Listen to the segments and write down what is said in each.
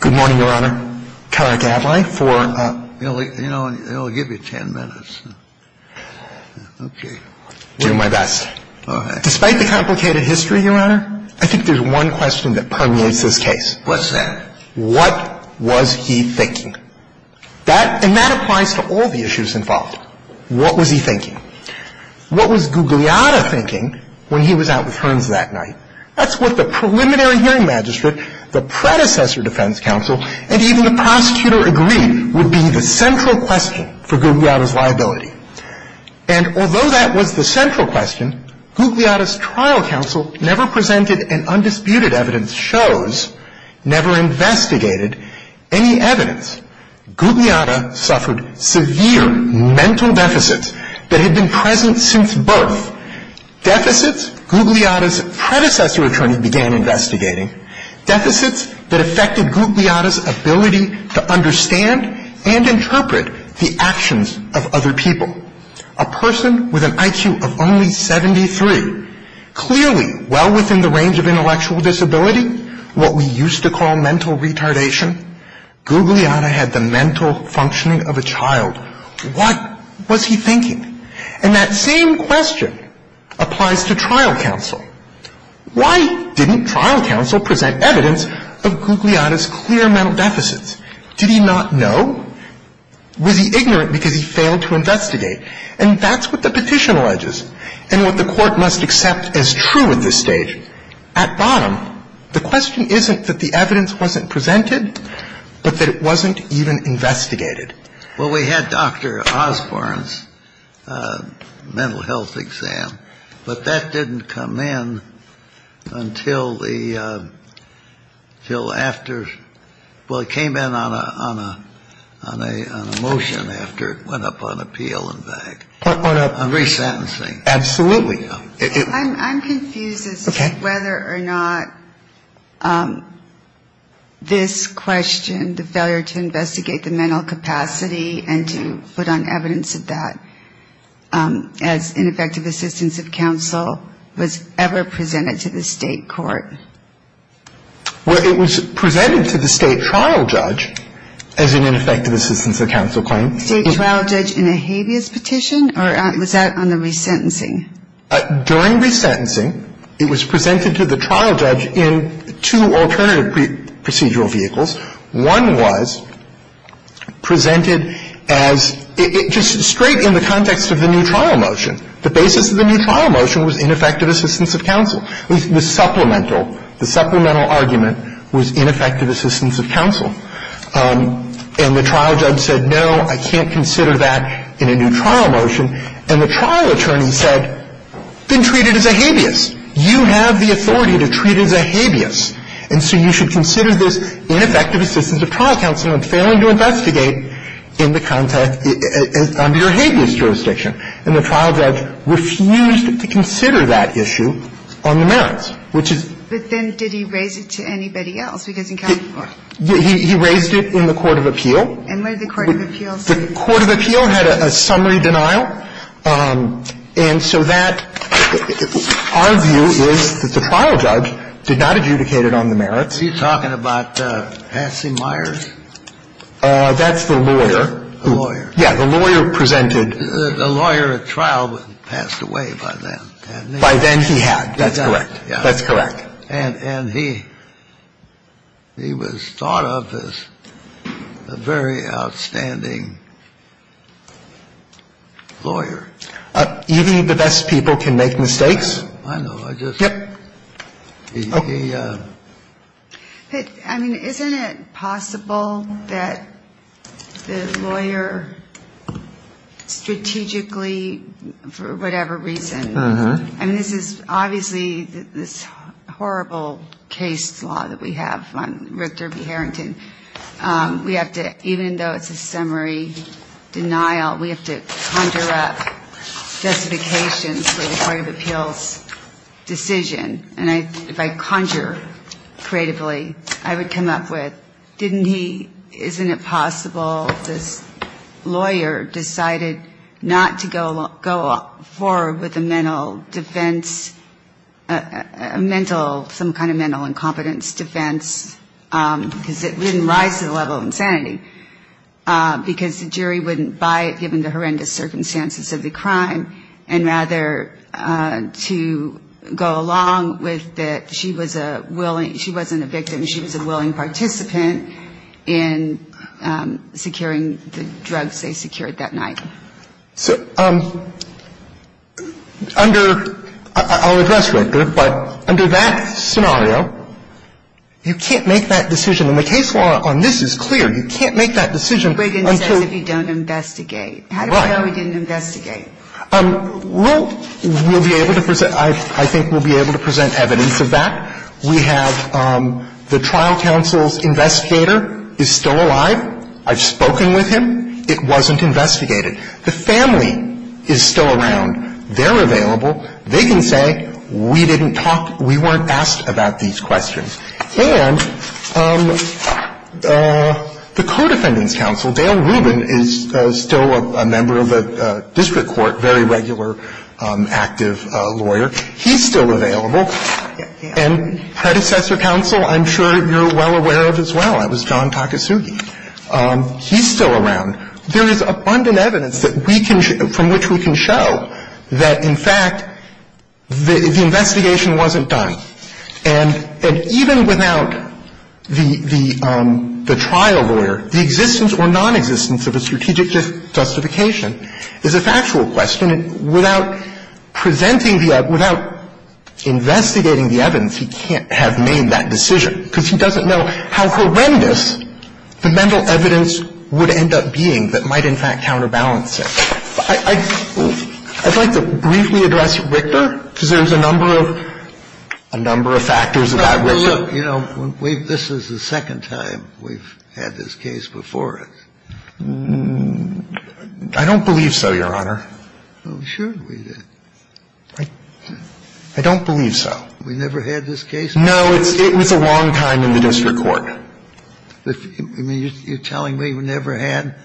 Good morning, Your Honor. Carrick Adlai for, you know, I'll give you ten minutes. Okay. I'll do my best. All right. Despite the complicated history, Your Honor, I think there's one question that permeates this case. What's that? What was he thinking? And that applies to all the issues involved. What was he thinking? What was Gugliotta thinking when he was out with Hearns that night? That's what the preliminary hearing magistrate, the predecessor defense counsel, and even the prosecutor agreed would be the central question for Gugliotta's liability. And although that was the central question, Gugliotta's trial counsel never presented and undisputed evidence shows, never investigated any evidence. Gugliotta suffered severe mental deficits that had been present since birth. Deficits Gugliotta's predecessor attorney began investigating. Deficits that affected Gugliotta's ability to understand and interpret the actions of other people. A person with an IQ of only 73, clearly well within the range of intellectual disability, what we used to call mental retardation. Gugliotta had the mental functioning of a child. What was he thinking? And that same question applies to trial counsel. Why didn't trial counsel present evidence of Gugliotta's clear mental deficits? Did he not know? Was he ignorant because he failed to investigate? And that's what the petition alleges and what the court must accept as true at this stage. At bottom, the question isn't that the evidence wasn't presented, but that it wasn't even investigated. Well, we had Dr. Osborne's mental health exam, but that didn't come in until the, until after, well, it came in on a motion after it went up on appeal and back. Absolutely. I'm confused as to whether or not this question, the failure to investigate the mental capacity and to put on evidence of that as ineffective assistance of counsel, was ever presented to the State court. Well, it was presented to the State trial judge as an ineffective assistance of counsel claim. State trial judge in a habeas petition, or was that on the resentencing? During resentencing, it was presented to the trial judge in two alternative procedural vehicles. One was presented as just straight in the context of the new trial motion. The basis of the new trial motion was ineffective assistance of counsel. The supplemental, the supplemental argument was ineffective assistance of counsel. And the trial judge said, no, I can't consider that in a new trial motion. And the trial attorney said, then treat it as a habeas. You have the authority to treat it as a habeas. And so you should consider this ineffective assistance of trial counsel in failing to investigate in the context, under your habeas jurisdiction. And the trial judge refused to consider that issue on the merits, which is. But then did he raise it to anybody else? Because in California. He raised it in the court of appeal. And what did the court of appeal say? The court of appeal had a summary denial. And so that, our view is that the trial judge did not adjudicate it on the merits. Are you talking about Hassey Myers? That's the lawyer. The lawyer. Yeah. The lawyer presented. The lawyer at trial passed away by then. By then he had. That's correct. That's correct. And he was thought of as a very outstanding lawyer. Even the best people can make mistakes. I know. I just. I mean, isn't it possible that the lawyer strategically, for whatever reason. Uh-huh. I mean, this is obviously this horrible case law that we have on Richter v. Harrington. We have to, even though it's a summary denial, we have to conjure up justification for the court of appeal's decision. And if I conjure creatively, I would come up with, didn't he, isn't it possible this lawyer decided not to go forward with a mental defense, a mental, some kind of mental incompetence defense because it didn't rise to the level of insanity because the jury wouldn't buy it given the horrendous circumstances of the crime, and rather to go along with that she was a willing, she wasn't a victim, she was a willing participant in securing the drugs they secured that night. So under, I'll address Richter, but under that scenario, you can't make that decision. And the case law on this is clear. You can't make that decision until. If you don't investigate. Right. How do we know he didn't investigate? We'll be able to present. I think we'll be able to present evidence of that. We have the trial counsel's investigator is still alive. I've spoken with him. It wasn't investigated. The family is still around. They're available. They can say we didn't talk, we weren't asked about these questions. And the co-defendant's counsel, Dale Rubin, is still a member of the district court, very regular, active lawyer. He's still available. And predecessor counsel I'm sure you're well aware of as well. That was John Takasugi. He's still around. There is abundant evidence from which we can show that, in fact, the investigation wasn't done. And even without the trial lawyer, the existence or nonexistence of a strategic justification is a factual question. Without presenting the evidence, without investigating the evidence, he can't have made that decision because he doesn't know how horrendous the mental evidence would end up being that might, in fact, counterbalance it. I'd like to briefly address Richter because there's a number of factors about Richter. But, look, you know, this is the second time we've had this case before us. I don't believe so, Your Honor. I'm sure we did. I don't believe so. We never had this case before? No, it was a long time in the district court. I mean, you're telling me we never had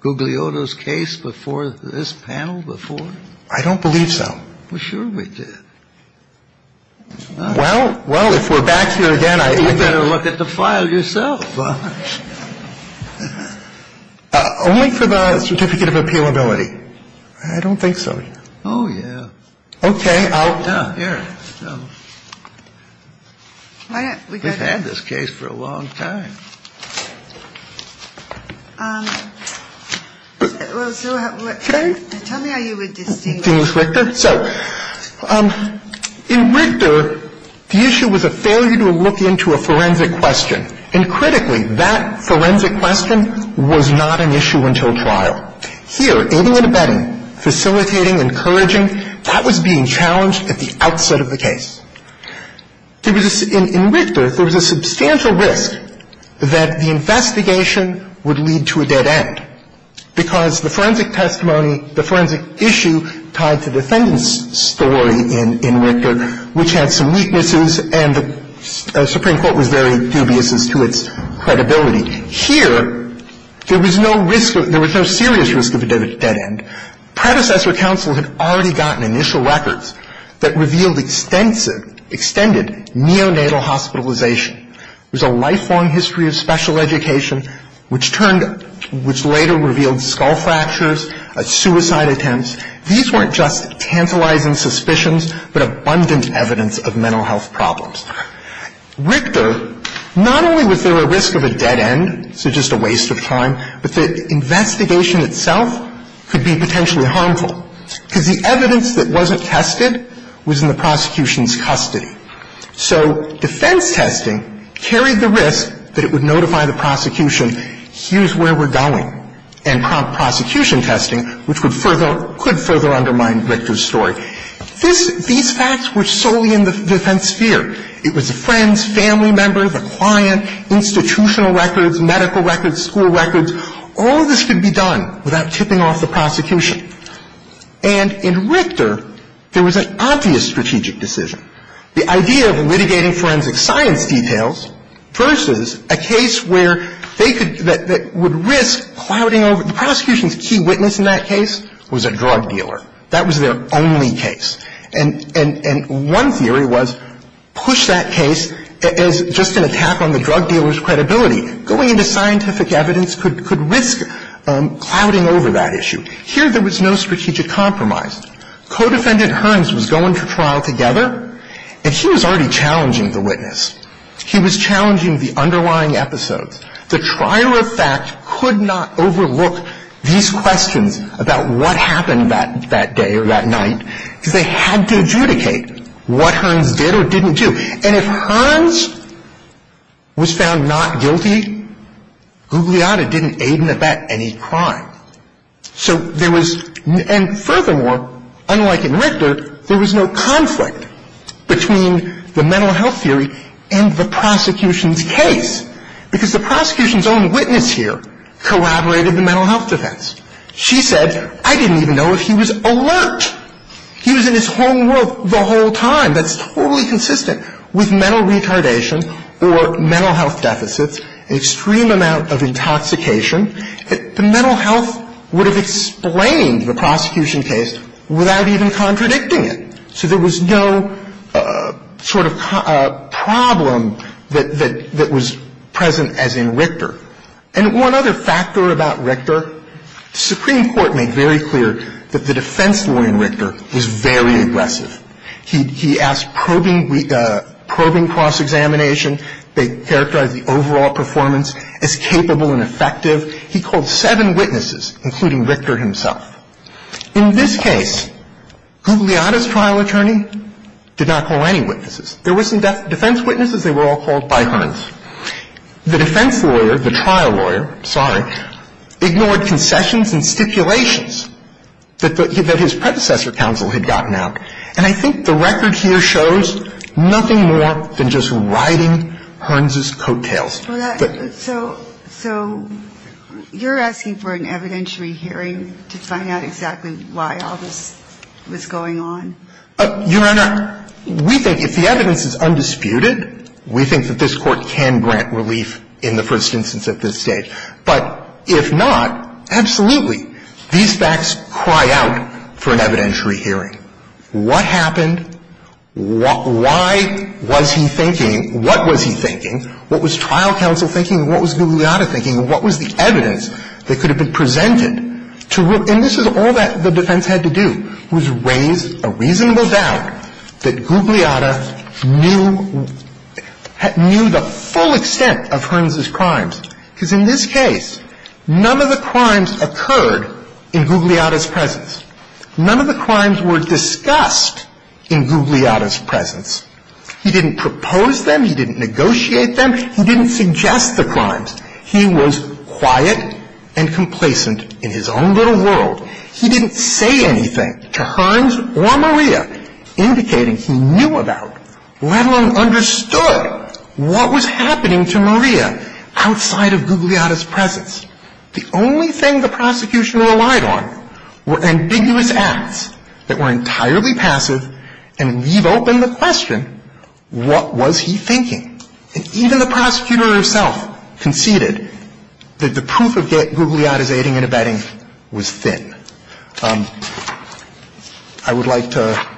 Gugliotto's case before this panel before? I don't believe so. Well, sure we did. Well, if we're back here again, I think we better look at the file yourself. Only for the certificate of appealability. I don't think so. Oh, yeah. Okay. We've had this case for a long time. Well, so tell me how you would distinguish. So, in Richter, the issue was a failure to look into a forensic question. And, critically, that forensic question was not an issue until trial. Here, aiding and abetting, facilitating, encouraging, that was being challenged at the outset of the case. In Richter, there was a substantial risk that the investigation would lead to a dead end because the forensic testimony, the forensic issue tied to the defendant's story in Richter, which had some weaknesses and the Supreme Court was very dubious as to its credibility. Here, there was no serious risk of a dead end. Predecessor counsel had already gotten initial records that revealed extended neonatal hospitalization. It was a lifelong history of special education, which later revealed skull fractures, suicide attempts. These weren't just tantalizing suspicions, but abundant evidence of mental health problems. Richter, not only was there a risk of a dead end, so just a waste of time, but the investigation itself could be potentially harmful, because the evidence that wasn't tested was in the prosecution's custody. So defense testing carried the risk that it would notify the prosecution, here's where we're going, and prompt prosecution testing, which would further, could further undermine Richter's story. These facts were solely in the defense sphere. It was friends, family members, a client, institutional records, medical records, school records. All of this could be done without tipping off the prosecution. And in Richter, there was an obvious strategic decision. The idea of litigating forensic science details versus a case where they could, that would risk clouding over. The prosecution's key witness in that case was a drug dealer. That was their only case. And one theory was push that case as just an attack on the drug dealer's credibility. Going into scientific evidence could risk clouding over that issue. Here, there was no strategic compromise. Codefendant Hearns was going to trial together, and he was already challenging the witness. He was challenging the underlying episodes. The trial of fact could not overlook these questions about what happened that day or that night because they had to adjudicate what Hearns did or didn't do. And if Hearns was found not guilty, Gugliotta didn't aid and abet any crime. So there was, and furthermore, unlike in Richter, there was no conflict between the mental health theory and the prosecution's case because the prosecution's own witness here collaborated the mental health defense. She said, I didn't even know if he was alert. He was in his home world the whole time. That's totally consistent with mental retardation or mental health deficits, extreme amount of intoxication. The mental health would have explained the prosecution case without even contradicting it. So there was no sort of problem that was present as in Richter. And one other factor about Richter, the Supreme Court made very clear that the defense lawyer in Richter was very aggressive. He asked probing cross-examination. They characterized the overall performance as capable and effective. He called seven witnesses, including Richter himself. In this case, Gugliotta's trial attorney did not call any witnesses. There were some defense witnesses. They were all called by Hearns. The defense lawyer, the trial lawyer, sorry, ignored concessions and stipulations that his predecessor counsel had gotten out. And I think the record here shows nothing more than just riding Hearns' coattails. So you're asking for an evidentiary hearing to find out exactly why all this was going on? Your Honor, we think if the evidence is undisputed, we think that this Court can grant relief in the first instance at this stage. But if not, absolutely. These facts cry out for an evidentiary hearing. What happened? Why was he thinking? What was he thinking? What was trial counsel thinking? What was Gugliotta thinking? What was the evidence that could have been presented? And this is all that the defense had to do, was raise a reasonable doubt that Gugliotta knew the full extent of Hearns' crimes. Because in this case, none of the crimes occurred in Gugliotta's presence. None of the crimes were discussed in Gugliotta's presence. He didn't propose them. He didn't negotiate them. He didn't suggest the crimes. He was quiet and complacent in his own little world. He didn't say anything to Hearns or Maria indicating he knew about, let alone understood, what was happening to Maria outside of Gugliotta's presence. The only thing the prosecution relied on were ambiguous acts that were entirely passive and leave open the question, what was he thinking? And even the prosecutor herself conceded that the proof of Gugliotta's aiding and abetting was thin. I would like to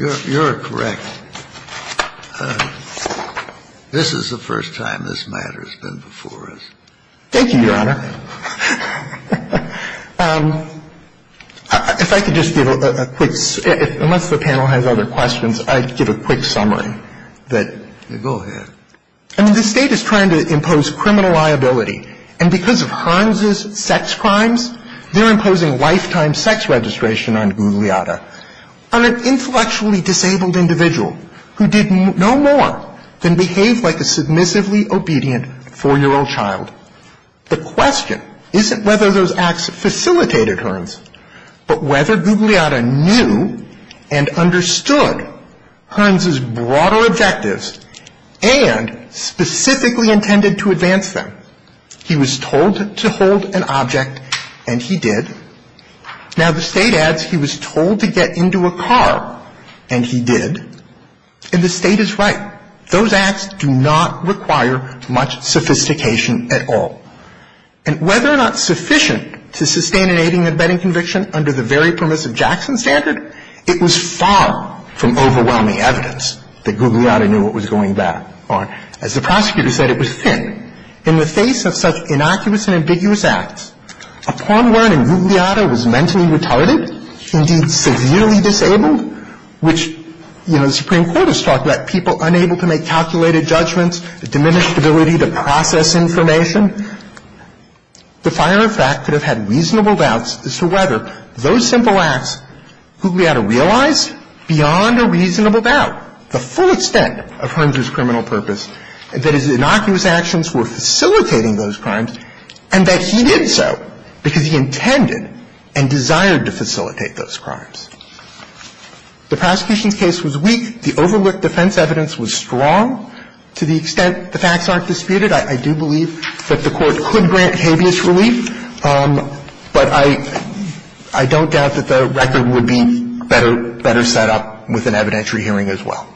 ---- You're correct. This is the first time this matter has been before us. Thank you, Your Honor. If I could just give a quick ---- unless the panel has other questions, I'd give a quick summary that ---- Go ahead. I mean, the State is trying to impose criminal liability. And because of Hearns' sex crimes, they're imposing lifetime sex registration on Gugliotta, on an intellectually disabled individual who did no more than behave like a submissively obedient 4-year-old child. The question isn't whether those acts facilitated Hearns, but whether Gugliotta knew and understood Hearns' broader objectives and specifically intended to advance them. He was told to hold an object, and he did. Now, the State adds he was told to get into a car, and he did. And the State is right. Those acts do not require much sophistication at all. And whether or not sufficient to sustain an aiding and abetting conviction under the very permissive Jackson standard, it was far from overwhelming evidence that Gugliotta knew what was going back on. As the prosecutor said, it was thin. In the face of such innocuous and ambiguous acts, upon learning Gugliotta was mentally retarded, severely disabled, which, you know, the Supreme Court has talked about, people unable to make calculated judgments, the diminished ability to process information, the fire in fact could have had reasonable doubts as to whether those simple acts Gugliotta realized, beyond a reasonable doubt, the full extent of Hearns' criminal purpose, that his innocuous actions were facilitating those crimes, and that he did so because he intended and desired to facilitate those crimes. The prosecution's case was weak. The overlooked defense evidence was strong to the extent the facts aren't disputed. I do believe that the Court could grant habeas relief, but I don't doubt that the record would be better set up with an evidentiary hearing as well.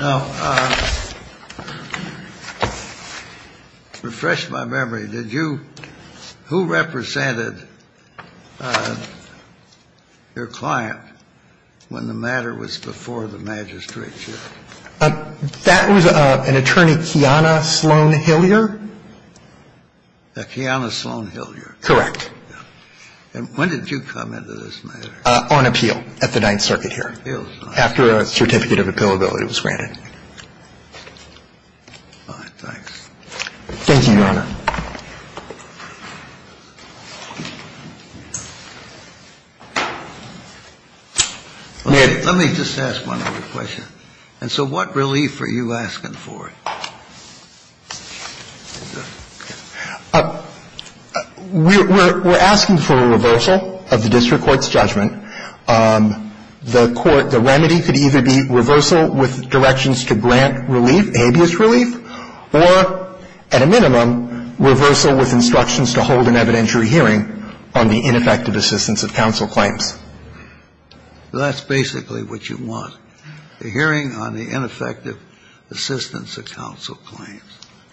Now, refresh my memory. Did you – who represented your client when the matter was before the magistrate's hearing? That was an attorney, Kiana Sloan-Hillier. Kiana Sloan-Hillier. Correct. And when did you come into this matter? On appeal at the Ninth Circuit here. On appeal. After a certificate of appealability was granted. All right. Thanks. Thank you, Your Honor. Let me just ask one other question. And so what relief are you asking for? We're asking for a reversal of the district court's judgment. The remedy could either be reversal with directions to grant relief, habeas relief, or at a minimum, reversal with instructions to hold an evidentiary hearing on the ineffective assistance of counsel claims. That's basically what you want, a hearing on the ineffective assistance of counsel claims.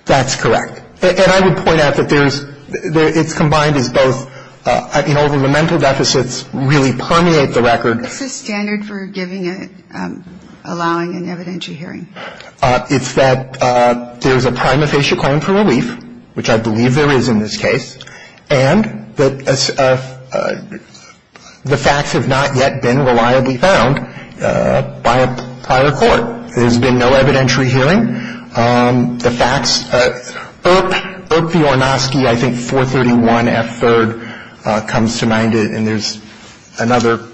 That's correct. And I would point out that there's – it's combined as both – I mean, all of the mental deficits really permeate the record. What's the standard for giving a – allowing an evidentiary hearing? It's that there's a prima facie claim for relief, which I believe there is in this case, and that the facts have not yet been reliably found by a prior court. There's been no evidentiary hearing. The facts – Earp, Earp V. Ornosky, I think 431F3rd comes to mind, and there's another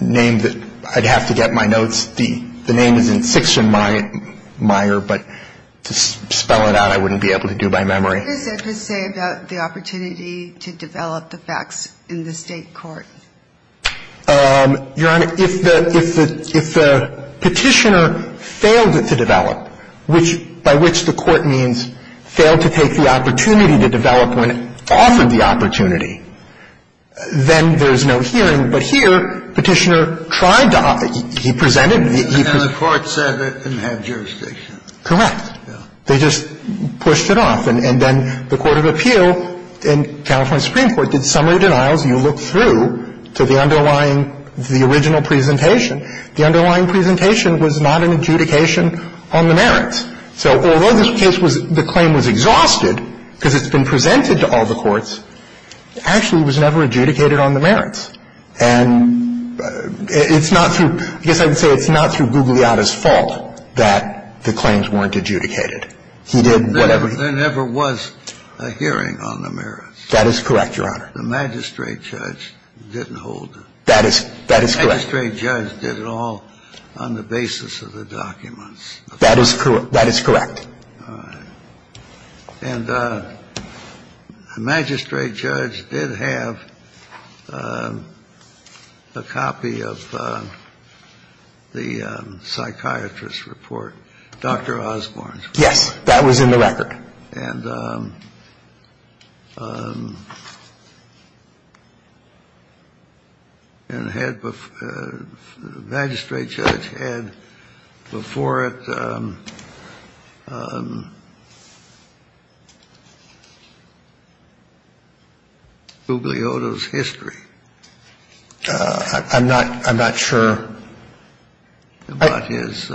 name that I'd have to get my notes. The name is in 6th and Meyer, but to spell it out, I wouldn't be able to do by memory. What does it say about the opportunity to develop the facts in the State court? Your Honor, if the – if the Petitioner failed it to develop, which – by which the court means failed to take the opportunity to develop when it offered the opportunity, then there's no hearing. But here, Petitioner tried to – he presented – he presented – And the court said it didn't have jurisdiction. Correct. They just pushed it off. And then the Court of Appeal in California Supreme Court did summary denials. You look through to the underlying – the original presentation. The underlying presentation was not an adjudication on the merits. So although this case was – the claim was exhausted because it's been presented to all the courts, actually it was never adjudicated on the merits. And it's not through – I guess I would say it's not through Gugliotta's fault that the claims weren't adjudicated. He did whatever he – There never was a hearing on the merits. That is correct, Your Honor. The magistrate judge didn't hold them. That is – that is correct. The magistrate judge did it all on the basis of the documents. That is correct. That is correct. All right. And the magistrate judge did have a copy of the psychiatrist's report, Dr. Osborne's case. That was in the record. And the magistrate judge had before it Gugliotta's history. I'm not – I'm not sure. About his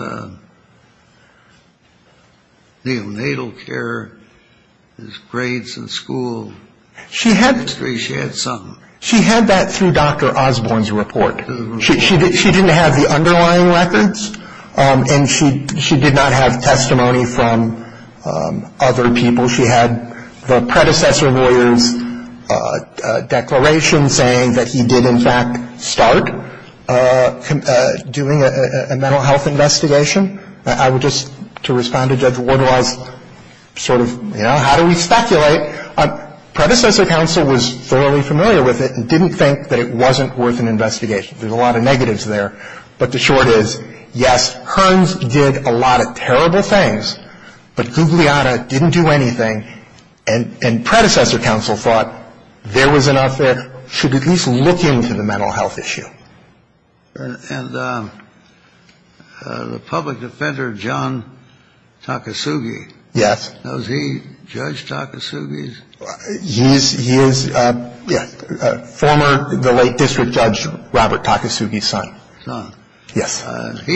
neonatal care, his grades in school. She had – She had something. She had that through Dr. Osborne's report. She didn't have the underlying records. And she did not have testimony from other people. She had the predecessor lawyer's declaration saying that he did, in fact, start doing a mental health investigation. I would just – to respond to Judge Wardlaw's sort of, you know, how do we speculate? Predecessor counsel was thoroughly familiar with it and didn't think that it wasn't worth an investigation. There's a lot of negatives there. But the short is, yes, Hearns did a lot of terrible things, but Gugliotta didn't do anything. And predecessor counsel thought there was enough there. Should at least look into the mental health issue. And the public defender, John Takasugi. Yes. Was he Judge Takasugi's? Yes. He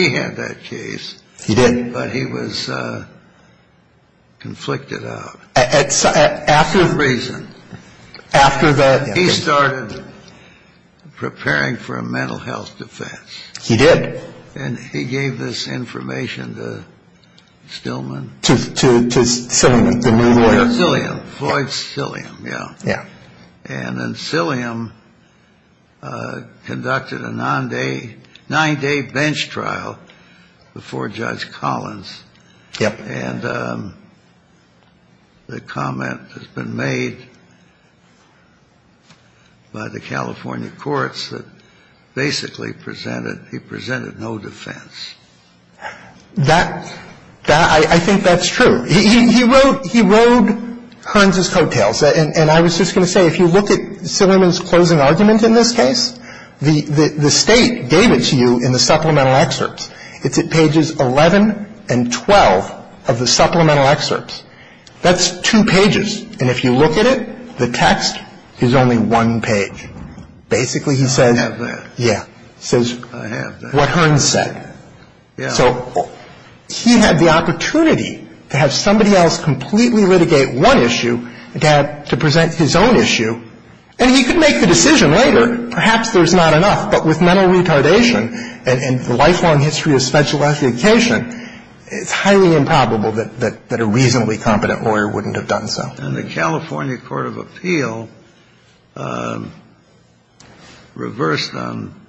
had that case. He did. But he was conflicted out. After – For a reason. After that – He started preparing for a mental health defense. He did. And he gave this information to Stillman. To Silliam, the new lawyer. Silliam. Floyd Silliam, yeah. Yeah. And Silliam conducted a nine-day bench trial before Judge Collins. Yep. And the comment has been made by the California courts that basically presented – he presented no defense. That – I think that's true. He wrote Hearns' coattails. And I was just going to say, if you look at Silliam's closing argument in this case, the State gave it to you in the supplemental excerpts. It's at pages 11 and 12 of the supplemental excerpts. That's two pages. And if you look at it, the text is only one page. Basically, he says – I have that. Yeah. He says – I have that. What Hearns said. Yeah. So he had the opportunity to have somebody else completely litigate one issue, to present his own issue. And he could make the decision later. Perhaps there's not enough. But with mental retardation and the lifelong history of special education, it's highly improbable that a reasonably competent lawyer wouldn't have done so. And the California Court of Appeal reversed on –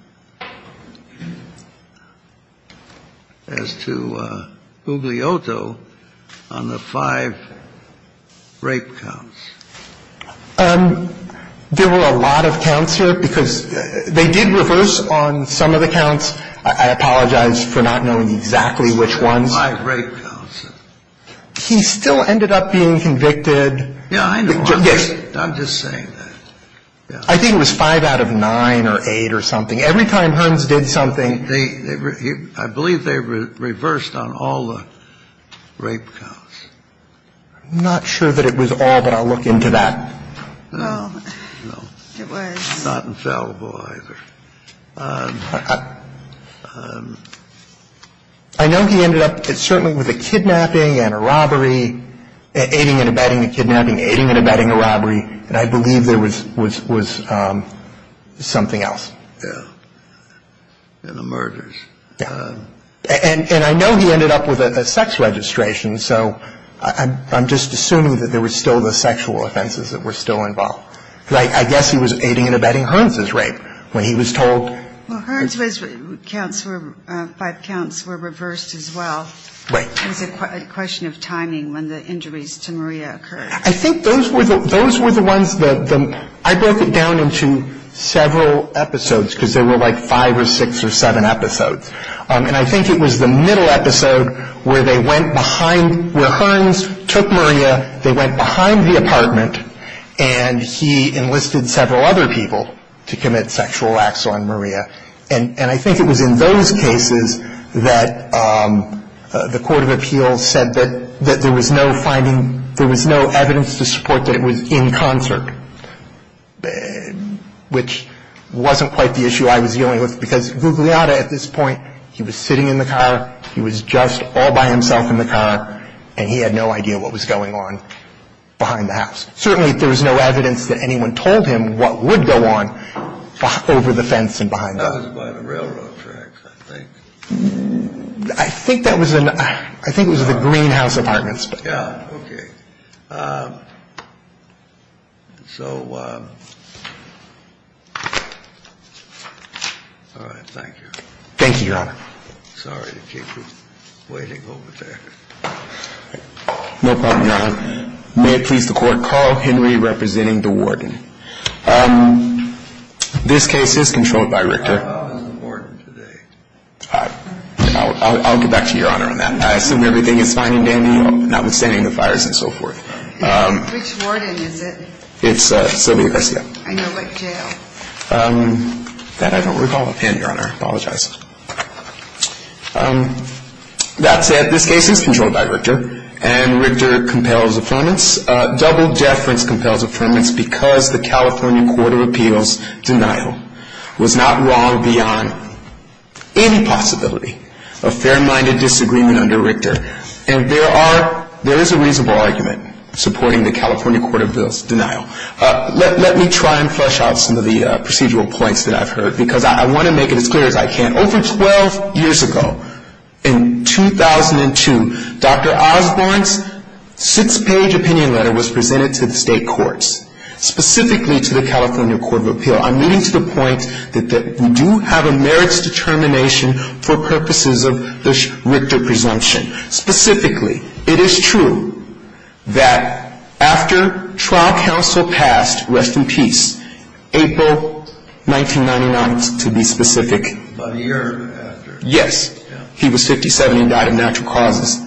as to Ugliotto on the five rape counts. There were a lot of counts here, because they did reverse on some of the counts. I apologize for not knowing exactly which ones. Five rape counts. He still ended up being convicted. Yeah, I know. I'm just saying that. I think it was five out of nine or eight or something. Every time Hearns did something – I believe they reversed on all the rape counts. I'm not sure that it was all, but I'll look into that. No. No. It was. Not infallible either. I know he ended up certainly with a kidnapping and a robbery, aiding and abetting a kidnapping, aiding and abetting a robbery. And I believe there was something else. Yeah. And the murders. Yeah. And I know he ended up with a sex registration. So I'm just assuming that there were still the sexual offenses that were still involved. I guess he was aiding and abetting Hearns' rape when he was told. Well, Hearns' five counts were reversed as well. Right. It was a question of timing when the injuries to Maria occurred. I think those were the ones that – I broke it down into several episodes, because there were like five or six or seven episodes. And I think it was the middle episode where they went behind – where Hearns took Maria, they went behind the apartment, and he enlisted several other people to commit sexual acts on Maria. And I think it was in those cases that the court of appeals said that there was no finding – there was no evidence to support that it was in concert, which wasn't quite the issue I was dealing with, because Gugliotta at this point, he was sitting in the car, he was just all by himself in the car, and he had no idea what was going on behind the house. Certainly, there was no evidence that anyone told him what would go on over the fence and behind it. That was by the railroad tracks, I think. I think that was in – I think it was the greenhouse apartments. Yeah. Okay. So all right. Thank you. Thank you, Your Honor. Sorry to keep you waiting over there. No problem, Your Honor. May it please the Court, Carl Henry representing the warden. This case is controlled by Richter. I'll get back to Your Honor on that. I assume everything is fine and dandy, notwithstanding the fires and so forth. Which warden is it? It's Sylvia Garcia. I know, but jail. That I don't recall. And, Your Honor, I apologize. That said, this case is controlled by Richter, and Richter compels affirmance. Double deference compels affirmance because the California Court of Appeals' denial was not wrong beyond any possibility. A fair-minded disagreement under Richter. And there is a reasonable argument supporting the California Court of Appeals' denial. Let me try and flesh out some of the procedural points that I've heard, because I want to make it as clear as I can. Over 12 years ago, in 2002, Dr. Osborne's six-page opinion letter was presented to the state courts. Specifically to the California Court of Appeals. I'm getting to the point that we do have a merits determination for purposes of the Richter presumption. Specifically, it is true that after trial counsel passed, rest in peace, April 1999, to be specific. About a year after. Yes. He was 57 and died of natural causes.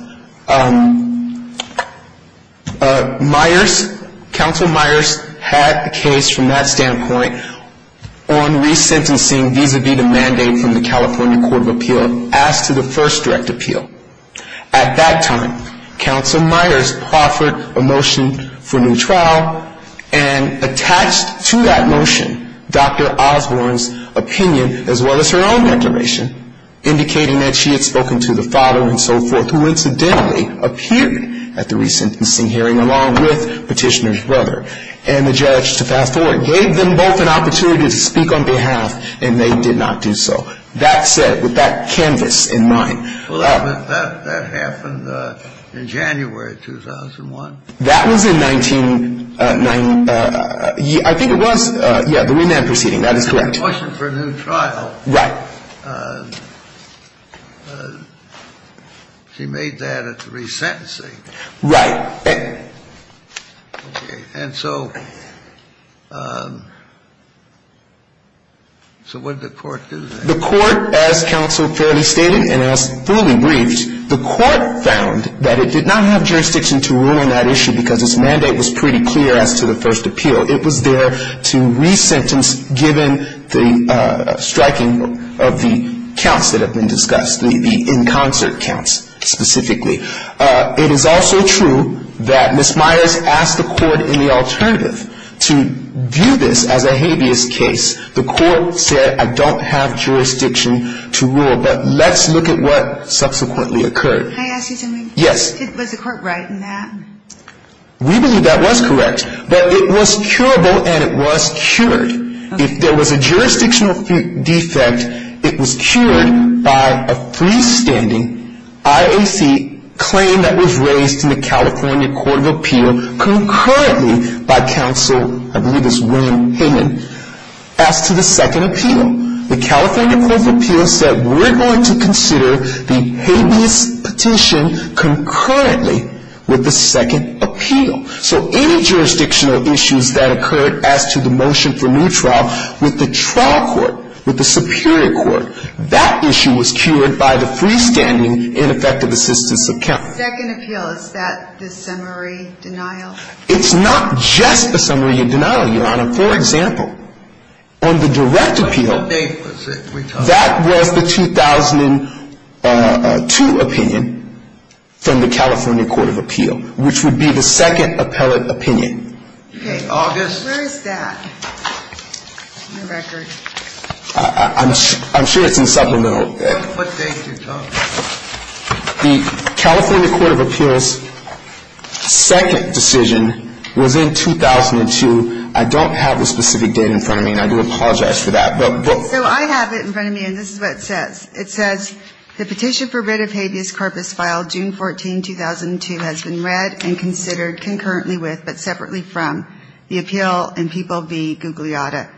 Myers, Counsel Myers, had a case from that standpoint on resentencing vis-a-vis the mandate from the California Court of Appeals. As to the first direct appeal. At that time, Counsel Myers offered a motion for new trial. And attached to that motion, Dr. Osborne's opinion as well as her own declaration. Indicating that she had spoken to the father and so forth. Who incidentally appeared at the resentencing hearing along with Petitioner's brother. And the judge, to fast forward, gave them both an opportunity to speak on behalf. And they did not do so. That said, with that canvas in mind. Well, that happened in January 2001. That was in 1999. I think it was. Yeah, the Wynand proceeding. That is correct. It was a motion for new trial. Right. She made that at the resentencing. Right. Okay. And so what did the Court do then? The Court, as Counsel Fairley stated and as fully briefed. The Court found that it did not have jurisdiction to rule on that issue. Because its mandate was pretty clear as to the first appeal. It was there to resentence given the striking of the counts that have been discussed. The in concert counts, specifically. It is also true that Ms. Myers asked the Court in the alternative. To view this as a habeas case. The Court said I don't have jurisdiction to rule. But let's look at what subsequently occurred. Can I ask you something? Yes. Was the Court right in that? We believe that was correct. But it was curable and it was cured. If there was a jurisdictional defect, it was cured by a freestanding IAC claim that was raised in the California Court of Appeal. Concurrently by Counsel, I believe it's William Hayman. As to the second appeal. The California Court of Appeal said we're going to consider the habeas petition concurrently with the second appeal. So any jurisdictional issues that occurred as to the motion for new trial with the trial court. With the superior court. That issue was cured by the freestanding ineffective assistance of counts. The second appeal, is that the summary denial? It's not just the summary denial, Your Honor. For example, on the direct appeal. What date was it we talked about? That was the 2002 opinion from the California Court of Appeal, which would be the second appellate opinion. Okay. August. Where is that in the record? I'm sure it's in supplemental. What date are you talking about? The California Court of Appeal's second decision was in 2002. I don't have the specific date in front of me, and I do apologize for that. So I have it in front of me, and this is what it says. It says the petition for writ of habeas corpus filed June 14, 2002, has been read and considered concurrently with, but separately from, the appeal in people v. Gugliotta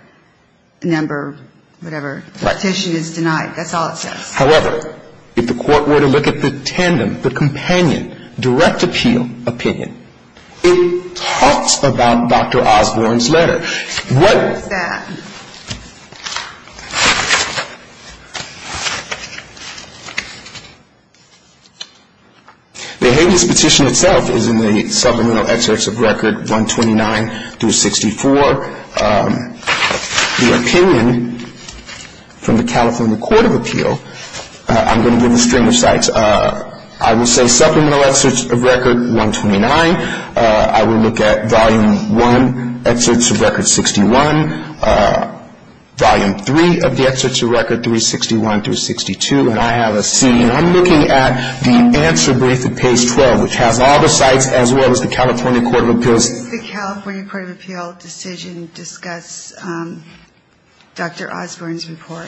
number, whatever. Right. The petition is denied. That's all it says. However, if the court were to look at the tandem, the companion, direct appeal opinion, it talks about Dr. Osborne's letter. What is that? The habeas petition itself is in the supplemental excerpts of record 129 through 64. The opinion from the California Court of Appeal, I'm going to give a string of sites. I will say supplemental excerpts of record 129. I will look at volume one, excerpts of record 61, volume three of the excerpts of record 361 through 62, and I have a C. And I'm looking at the answer brief at page 12, which has all the sites as well as the California Court of Appeals. Does the California Court of Appeal decision discuss Dr. Osborne's report?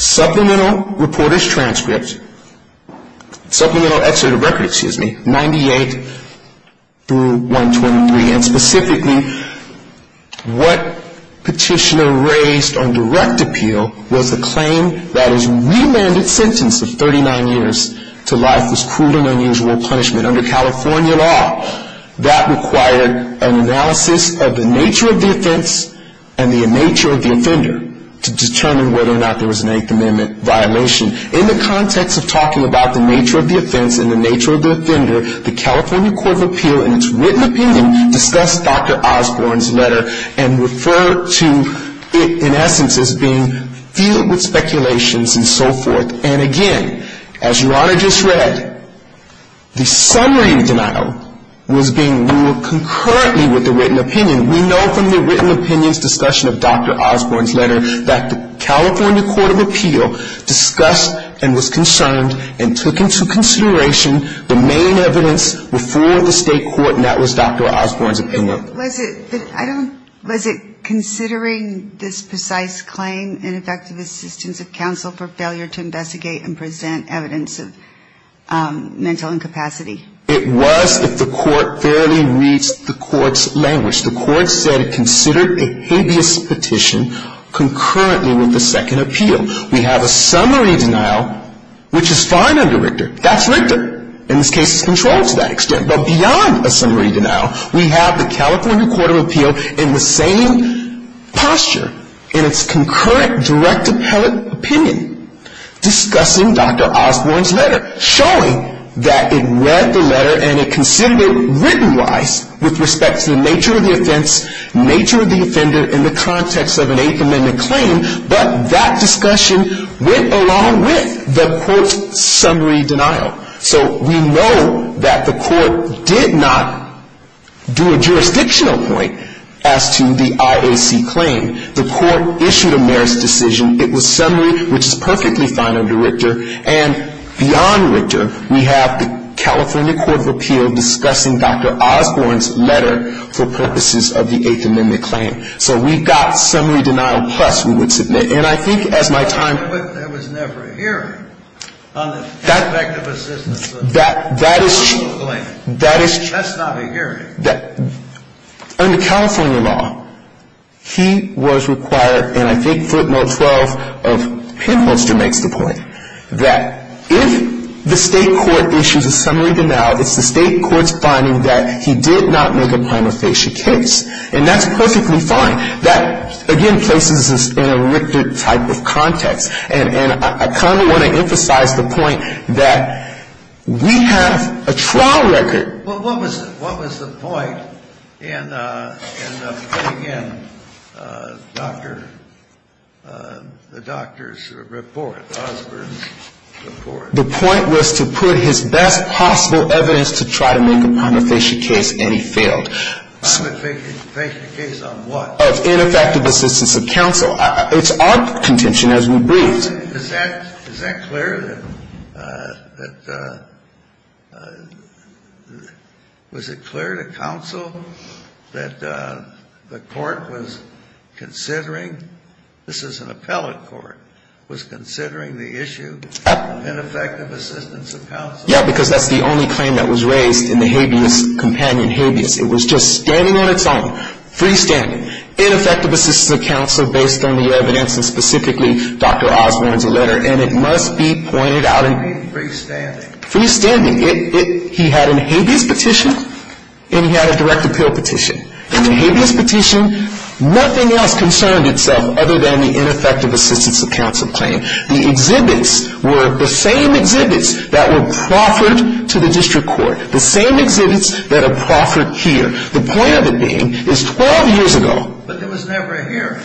Supplemental reporter's transcript, supplemental excerpt of record, excuse me, 98 through 123. And specifically, what petitioner raised on direct appeal was the claim that his remanded sentence of 39 years to life was cruel and unusual punishment under California law. That required an analysis of the nature of the offense and the nature of the offender to determine whether or not there was an Eighth Amendment violation. In the context of talking about the nature of the offense and the nature of the offender, the California Court of Appeal in its written opinion discussed Dr. Osborne's letter and referred to it in essence as being filled with speculations and so forth. And again, as Your Honor just read, the summary of the denial was being ruled concurrently with the written opinion. We know from the written opinion's discussion of Dr. Osborne's letter that the California Court of Appeal discussed and was concerned and took into consideration the main evidence before the state court, and that was Dr. Osborne's opinion. Was it, I don't, was it considering this precise claim in effective assistance of counsel for failure to investigate and present evidence of mental incapacity? It was if the court fairly reads the court's language. The court said it considered a habeas petition concurrently with the second appeal. We have a summary denial, which is fine under Richter. That's Richter. And this case is controlled to that extent. But beyond a summary denial, we have the California Court of Appeal in the same posture in its concurrent direct appellate opinion discussing Dr. Osborne's letter, showing that it read the letter and it considered it written-wise with respect to the nature of the offense, nature of the offender in the context of an Eighth Amendment claim. But that discussion went along with the court's summary denial. So we know that the court did not do a jurisdictional point as to the IAC claim. The court issued a merits decision. It was summary, which is perfectly fine under Richter. And beyond Richter, we have the California Court of Appeal discussing Dr. Osborne's letter for purposes of the Eighth Amendment claim. So we've got summary denial plus we would submit. And I think as my time — But there was never a hearing on the aspect of assistance for the Eighth Amendment claim. That is — That's not a hearing. Under California law, he was required, and I think footnote 12 of Penholster makes the point, that if the state court issues a summary denial, it's the state court's finding that he did not make a prima facie case. And that's perfectly fine. That, again, places us in a Richter type of context. And I kind of want to emphasize the point that we have a trial record. Well, what was the point in putting in Dr. — the doctor's report, Osborne's report? The point was to put his best possible evidence to try to make a prima facie case, and he failed. A prima facie case on what? Of ineffective assistance of counsel. It's our contention as we briefed. Is that clear that — was it clear to counsel that the court was considering — this is an appellate court — was considering the issue of ineffective assistance of counsel? Yeah, because that's the only claim that was raised in the habeas companion habeas. It was just standing on its own, freestanding. Ineffective assistance of counsel based on the evidence, and specifically Dr. Osborne's letter. And it must be pointed out in — Freestanding. Freestanding. He had a habeas petition, and he had a direct appeal petition. In the habeas petition, nothing else concerned itself other than the ineffective assistance of counsel claim. The exhibits were the same exhibits that were proffered to the district court. The same exhibits that are proffered here. The point of it being is 12 years ago — But there was never a hearing.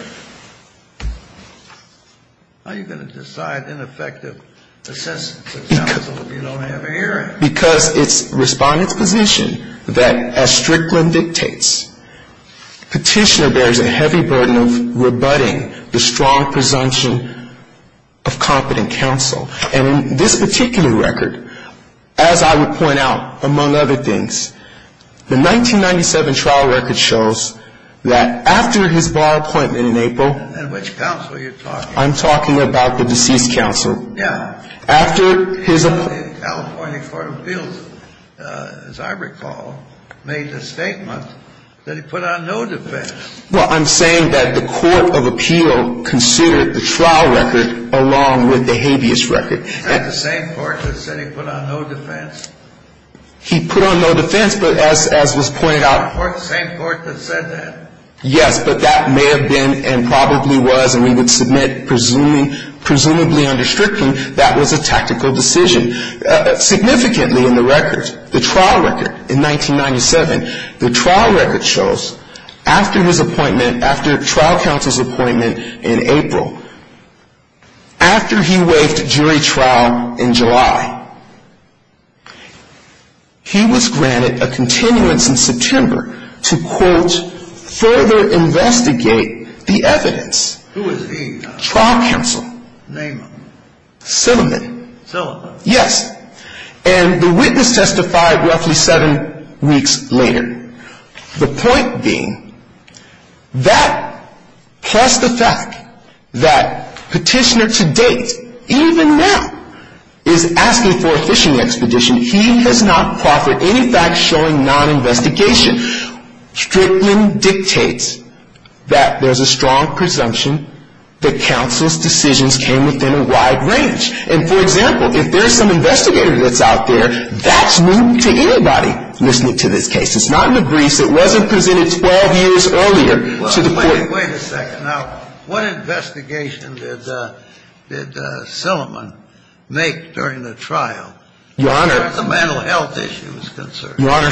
How are you going to decide ineffective assistance of counsel if you don't have a hearing? Because it's Respondent's position that as Strickland dictates, petitioner bears a heavy burden of rebutting the strong presumption of competent counsel. And in this particular record, as I would point out, among other things, the 1997 trial record shows that after his bar appointment in April — And which counsel are you talking about? I'm talking about the deceased counsel. Yeah. After his — The California Court of Appeals, as I recall, made the statement that he put on no defense. Well, I'm saying that the court of appeal considered the trial record along with the habeas record. Isn't that the same court that said he put on no defense? He put on no defense, but as was pointed out — The same court that said that. Yes, but that may have been and probably was, and we would submit presumably under Strickland, that was a tactical decision. Significantly in the record, the trial record in 1997, the trial record shows after his appointment — After trial counsel's appointment in April, after he waived jury trial in July, he was granted a continuance in September to, quote, further investigate the evidence. Who is he? Trial counsel. Name him. Silliman. Silliman. Yes. And the witness testified roughly seven weeks later. The point being, that plus the fact that petitioner to date, even now, is asking for a fishing expedition. He has not proffered any facts showing non-investigation. Strickland dictates that there's a strong presumption that counsel's decisions came within a wide range. And for example, if there's some investigator that's out there, that's new to anybody listening to this case. It's not in the briefs. It wasn't presented 12 years earlier to the court. Wait a second. Now, what investigation did Silliman make during the trial? Your Honor — As far as the mental health issue is concerned. Your Honor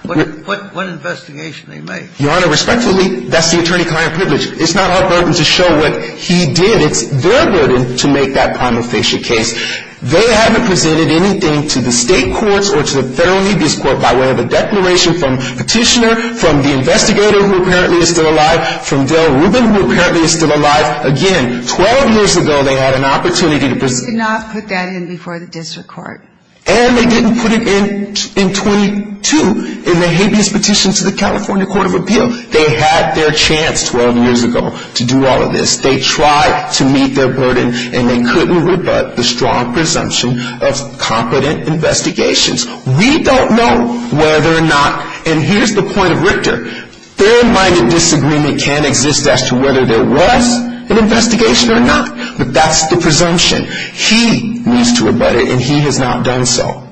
— What investigation did he make? Your Honor, respectfully, that's the attorney client privilege. It's not our burden to show what he did. It's their burden to make that prima facie case. They haven't presented anything to the state courts or to the federal habeas court by way of a declaration from petitioner, from the investigator who apparently is still alive, from Dale Rubin who apparently is still alive. Again, 12 years ago, they had an opportunity to present — They did not put that in before the district court. And they didn't put it in in 22 in the habeas petition to the California Court of Appeal. They had their chance 12 years ago to do all of this. They tried to meet their burden, and they couldn't rebut the strong presumption of competent investigations. We don't know whether or not — And here's the point of Richter. Fair-minded disagreement can exist as to whether there was an investigation or not. But that's the presumption. He needs to rebut it, and he has not done so.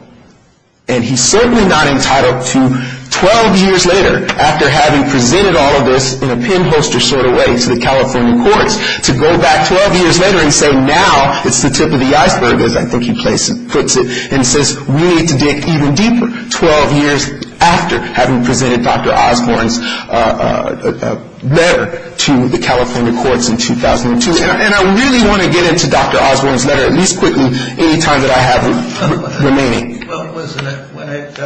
And he's certainly not entitled to 12 years later, after having presented all of this in a pinholster sort of way to the California courts, to go back 12 years later and say now it's the tip of the iceberg, as I think he puts it, and says we need to dig even deeper 12 years after having presented Dr. Osborne's letter to the California courts in 2002. And I really want to get into Dr. Osborne's letter at least quickly any time that I have remaining. Well, it was when it came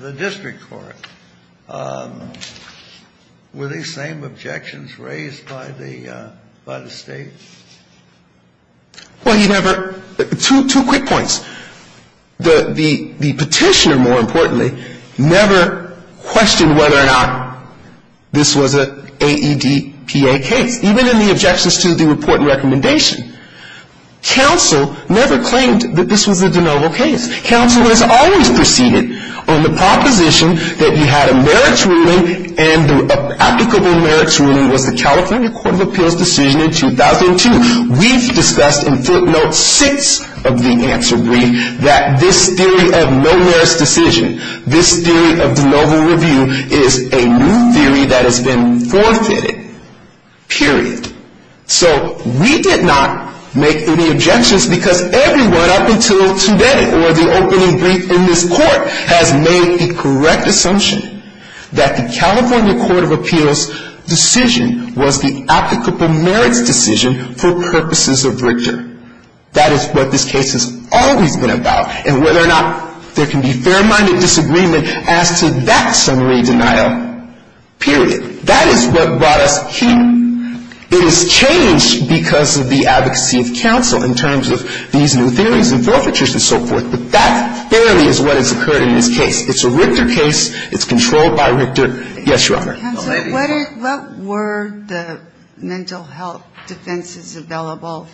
to the district court. Were these same objections raised by the State? Well, you never — two quick points. The petitioner, more importantly, never questioned whether or not this was an AEDPA case. Even in the objections to the report and recommendation, counsel never claimed that this was a de novo case. Counsel has always proceeded on the proposition that you had a merits ruling, and the applicable merits ruling was the California Court of Appeals decision in 2002. We've discussed in footnote six of the answer brief that this theory of no merits decision, this theory of de novo review is a new theory that has been forfeited, period. So we did not make any objections because everyone up until today or the opening brief in this court has made the correct assumption that the California Court of Appeals decision was the applicable merits decision for purposes of Richter. That is what this case has always been about, and whether or not there can be fair-minded disagreement as to that summary denial, period. That is what brought us here. It has changed because of the advocacy of counsel in terms of these new theories and forfeitures and so forth, but that fairly is what has occurred in this case. It's a Richter case. It's controlled by Richter. Yes, Your Honor. Counsel, what were the mental health defenses available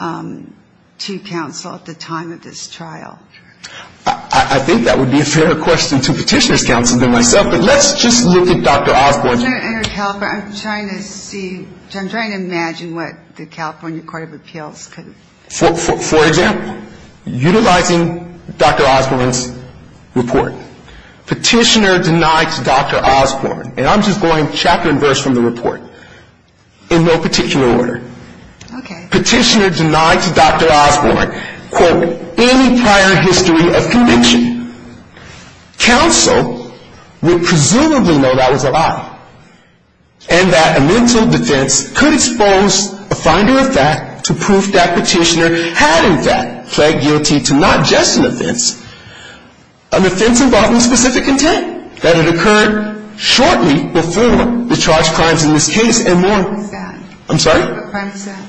to counsel at the time of this trial? I think that would be a fairer question to Petitioner's counsel than myself, but let's just look at Dr. Osborne's. I'm trying to see, I'm trying to imagine what the California Court of Appeals could have. For example, utilizing Dr. Osborne's report, Petitioner denied to Dr. Osborne, and I'm just going chapter and verse from the report in no particular order. Petitioner denied to Dr. Osborne, quote, any prior history of conviction. Counsel would presumably know that was a lie and that a mental defense could expose a finder of fact to prove that Petitioner had, in fact, pled guilty to not just an offense, an offense involving specific intent, that it occurred shortly before the charged crimes in this case and more. What crime is that? I'm sorry? What crime is that?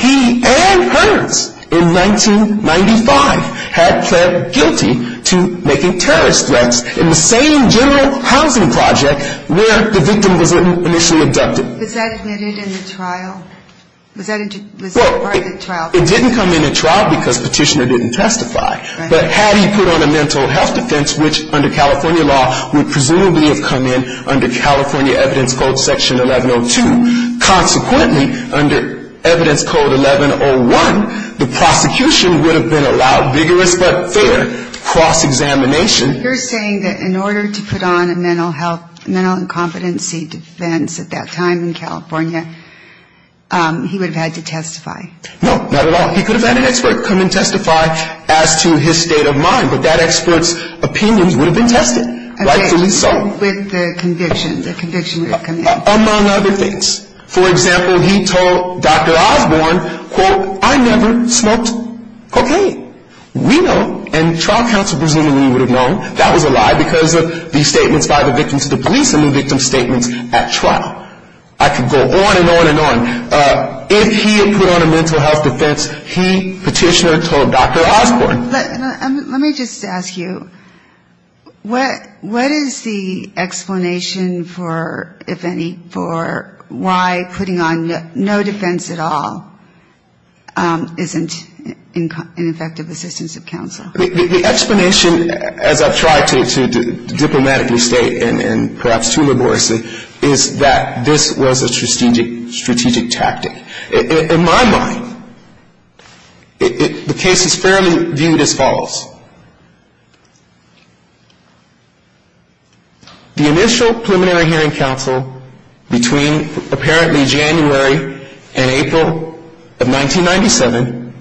He and hers, in 1995, had pled guilty to making terrorist threats in the same general housing project where the victim was initially abducted. Was that admitted in the trial? Was that part of the trial? Well, it didn't come in the trial because Petitioner didn't testify, but had he put on a mental health defense, which under California law would presumably have come in under California evidence code section 1102. Consequently, under evidence code 1101, the prosecution would have been allowed vigorous but fair cross-examination. You're saying that in order to put on a mental health, mental incompetency defense at that time in California, he would have had to testify? No, not at all. He could have had an expert come and testify as to his state of mind, but that expert's opinions would have been tested. Okay. Rightfully so. With the conviction, the conviction would have come in. Among other things. For example, he told Dr. Osborne, quote, I never smoked cocaine. We know, and trial counsel presumably would have known that was a lie because of the statements by the victim to the police and the victim's statements at trial. I could go on and on and on. If he had put on a mental health defense, he, Petitioner, told Dr. Osborne. Let me just ask you, what is the explanation for, if any, for why putting on no defense at all isn't an effective assistance of counsel? The explanation, as I've tried to diplomatically state and perhaps too laboriously, is that this was a strategic tactic. In my mind, the case is fairly viewed as follows. The initial preliminary hearing counsel between apparently January and April of 1997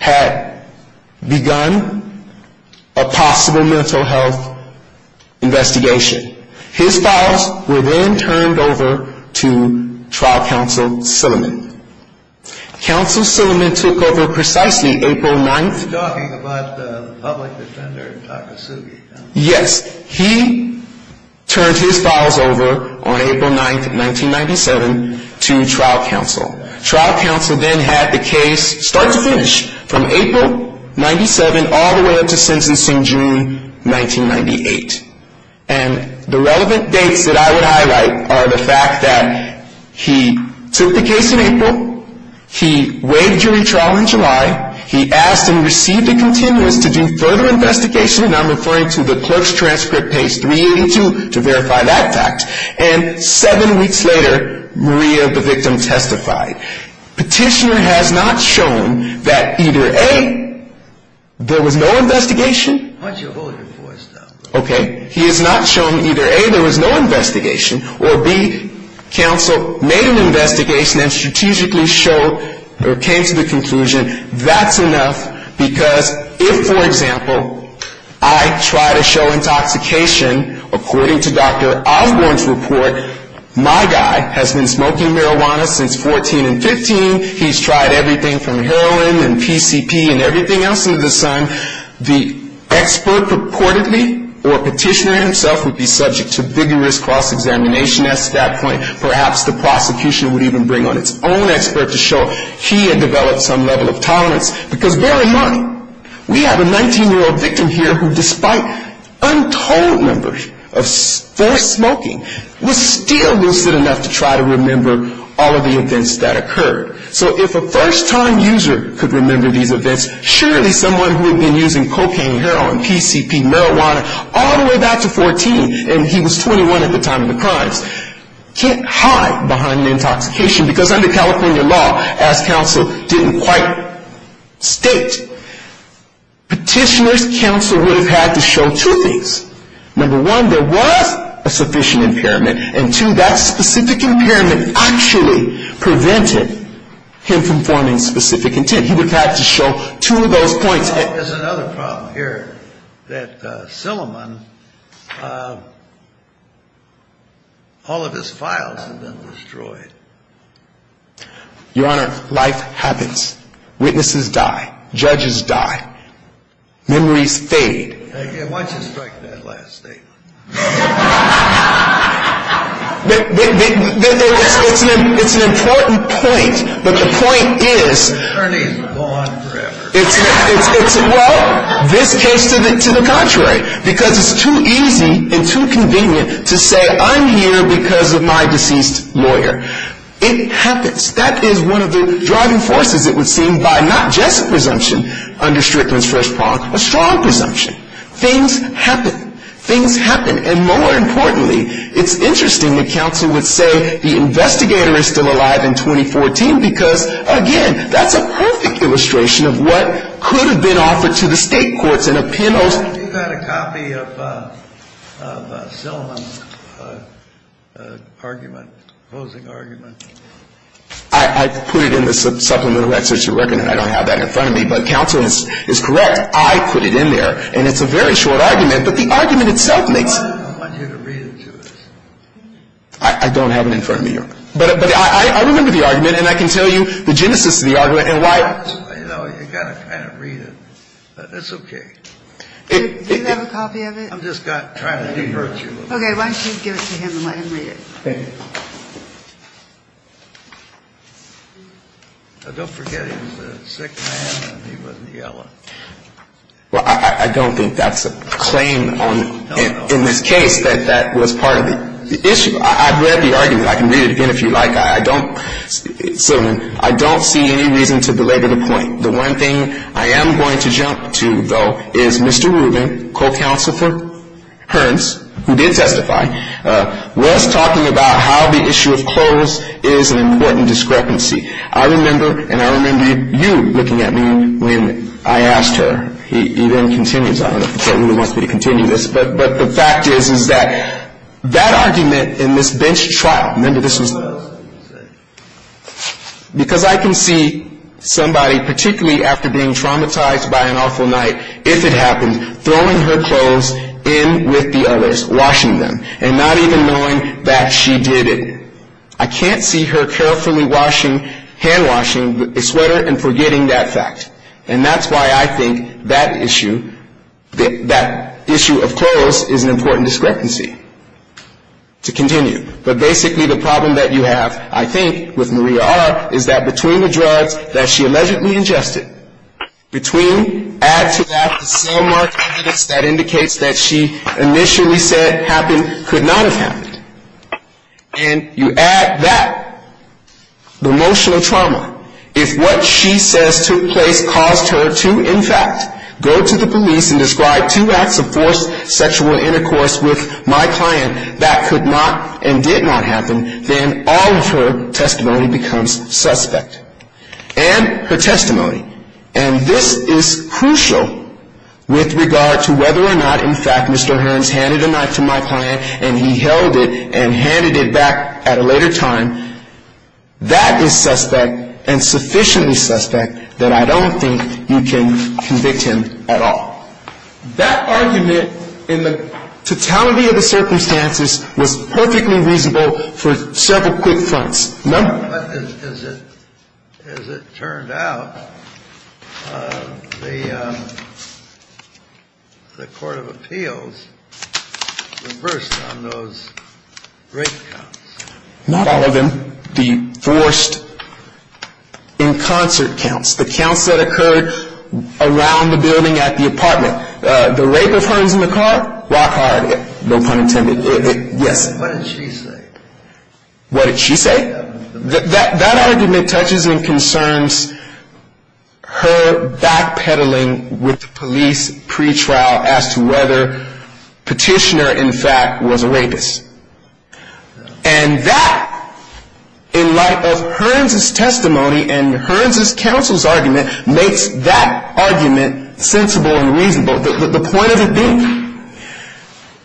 had begun a possible mental health investigation. His files were then turned over to trial counsel Silliman. Counsel Silliman took over precisely April 9th. You're talking about the public defender Takasugi. Yes. He turned his files over on April 9th, 1997 to trial counsel. Trial counsel then had the case start to finish from April 97 all the way up to sentencing June 1998. And the relevant dates that I would highlight are the fact that he took the case in April. He waived jury trial in July. He asked and received a continuous to do further investigation. And I'm referring to the clerk's transcript, page 382, to verify that fact. And seven weeks later, Maria, the victim, testified. Petitioner has not shown that either, A, there was no investigation. Why don't you hold your voice up? Okay. He has not shown either, A, there was no investigation, or, B, counsel made an investigation and strategically showed or came to the conclusion that's enough because if, for example, I try to show intoxication, according to Dr. Osborne's report, my guy has been smoking marijuana since 14 and 15. He's tried everything from heroin and PCP and everything else under the sun. The expert purportedly or petitioner himself would be subject to vigorous cross-examination at that point. Perhaps the prosecution would even bring on its own expert to show he had developed some level of tolerance because bear in mind, we have a 19-year-old victim here who, despite untold numbers of forced smoking, was still lucid enough to try to remember all of the events that occurred. So if a first-time user could remember these events, surely someone who had been using cocaine, heroin, PCP, marijuana all the way back to 14, and he was 21 at the time of the crimes, can't hide behind the intoxication because under California law, as counsel didn't quite state, petitioner's counsel would have had to show two things. Number one, there was a sufficient impairment, and two, that specific impairment actually prevented him from forming specific intent. He would have had to show two of those points. There's another problem here that Silliman, all of his files have been destroyed. Your Honor, life happens. Witnesses die. Judges die. Memories fade. Thank you. Why don't you strike that last statement? It's an important point, but the point is... The attorneys will go on forever. Well, this case, to the contrary, because it's too easy and too convenient to say I'm here because of my deceased lawyer. It happens. That is one of the driving forces, it would seem, by not just presumption under Strickland's first prong, a strong presumption. Things happen. Things happen. And more importantly, it's interesting that counsel would say the investigator is still alive in 2014 because, again, that's a perfect illustration of what could have been offered to the state courts in a penalty. Counsel, do you have a copy of Silliman's argument, opposing argument? I put it in the supplemental excerpt, Your Honor, and I don't have that in front of me, but counsel is correct. I put it in there, and it's a very short argument, but the argument itself makes... I want you to read it to us. I don't have it in front of me, Your Honor. But I remember the argument, and I can tell you the genesis of the argument and why... You know, you've got to kind of read it. It's okay. Do you have a copy of it? I'm just trying to divert you a little bit. Okay. Why don't you give it to him and let him read it. Thank you. Don't forget he was a sick man, and he wasn't yelling. Well, I don't think that's a claim in this case that that was part of the issue. I've read the argument. I can read it again if you like. I don't see any reason to belabor the point. The one thing I am going to jump to, though, is Mr. Rubin, co-counsel for Hearns, who did testify, was talking about how the issue of clothes is an important discrepancy. I remember, and I remember you looking at me when I asked her. He then continues. I don't know if he wants me to continue this, but the fact is is that that argument in this bench trial... Because I can see somebody, particularly after being traumatized by an awful night, if it happened, throwing her clothes in with the others, washing them, and not even knowing that she did it. I can't see her carefully washing, hand-washing a sweater and forgetting that fact. And that's why I think that issue, that issue of clothes, is an important discrepancy to continue. But basically, the problem that you have, I think, with Maria R. is that between the drugs that she allegedly ingested, between, add to that the sand mark evidence that indicates that she initially said happened, could not have happened, and you add that, the emotional trauma, if what she says took place caused her to, in fact, go to the police and describe two acts of forced sexual intercourse with my client that could not and did not happen, then all of her testimony becomes suspect. And her testimony. And this is crucial with regard to whether or not, in fact, Mr. Hearns handed a knife to my client, and he held it and handed it back at a later time. That is suspect and sufficiently suspect that I don't think you can convict him at all. That argument, in the totality of the circumstances, was perfectly reasonable for several quick fronts. Remember? But as it turned out, the Court of Appeals reversed on those rape counts. Not all of them. The forced in concert counts, the counts that occurred around the building at the apartment. The rape of Hearns in the car? Rock hard. No pun intended. Yes. What did she say? What did she say? That argument touches and concerns her backpedaling with police pretrial as to whether Petitioner, in fact, was a rapist. And that, in light of Hearns' testimony and Hearns' counsel's argument, makes that argument sensible and reasonable. The point of it being.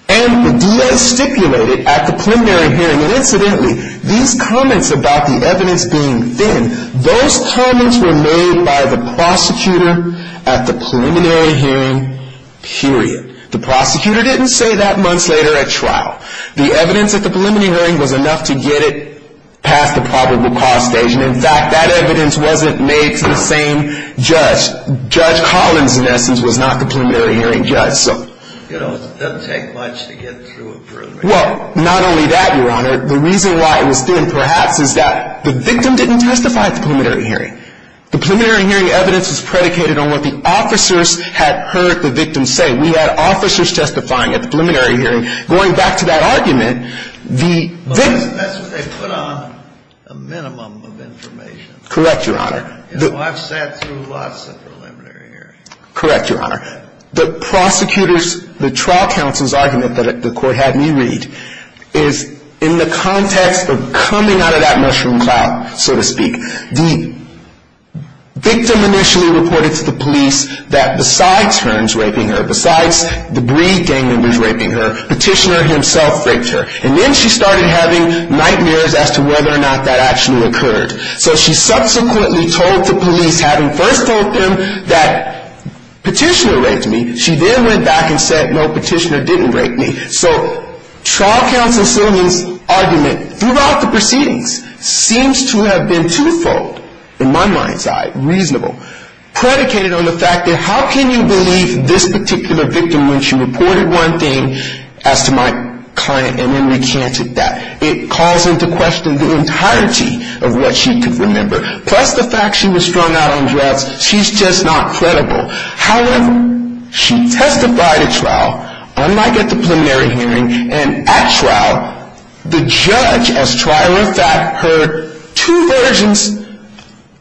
And the DA stipulated at the preliminary hearing, and incidentally, these comments about the evidence being thin, those comments were made by the prosecutor at the preliminary hearing, period. The prosecutor didn't say that months later at trial. The evidence at the preliminary hearing was enough to get it past the probable cause stage. And, in fact, that evidence wasn't made to the same judge. Judge Collins, in essence, was not the preliminary hearing judge. You know, it doesn't take much to get through a program. Well, not only that, Your Honor. The reason why it was thin, perhaps, is that the victim didn't testify at the preliminary hearing. The preliminary hearing evidence was predicated on what the officers had heard the victim say. We had officers testifying at the preliminary hearing. Going back to that argument, the victim. That's what they put on a minimum of information. Correct, Your Honor. Well, I've sat through lots of preliminary hearings. Correct, Your Honor. The prosecutor's, the trial counsel's argument that the court had me read, is in the context of coming out of that mushroom cloud, so to speak. The victim initially reported to the police that besides her, he was raping her. Besides the breed, Daniel was raping her. Petitioner himself raped her. And then she started having nightmares as to whether or not that actually occurred. So she subsequently told the police, having first told them that Petitioner raped me. She then went back and said, no, Petitioner didn't rape me. So trial counsel's argument throughout the proceedings seems to have been twofold, in my mind's eye, reasonable. Predicated on the fact that how can you believe this particular victim when she reported one thing as to my client and then recanted that. It calls into question the entirety of what she could remember. Plus the fact she was strung out on drugs. She's just not credible. However, she testified at trial, unlike at the preliminary hearing. And at trial, the judge, as trial in fact, heard two versions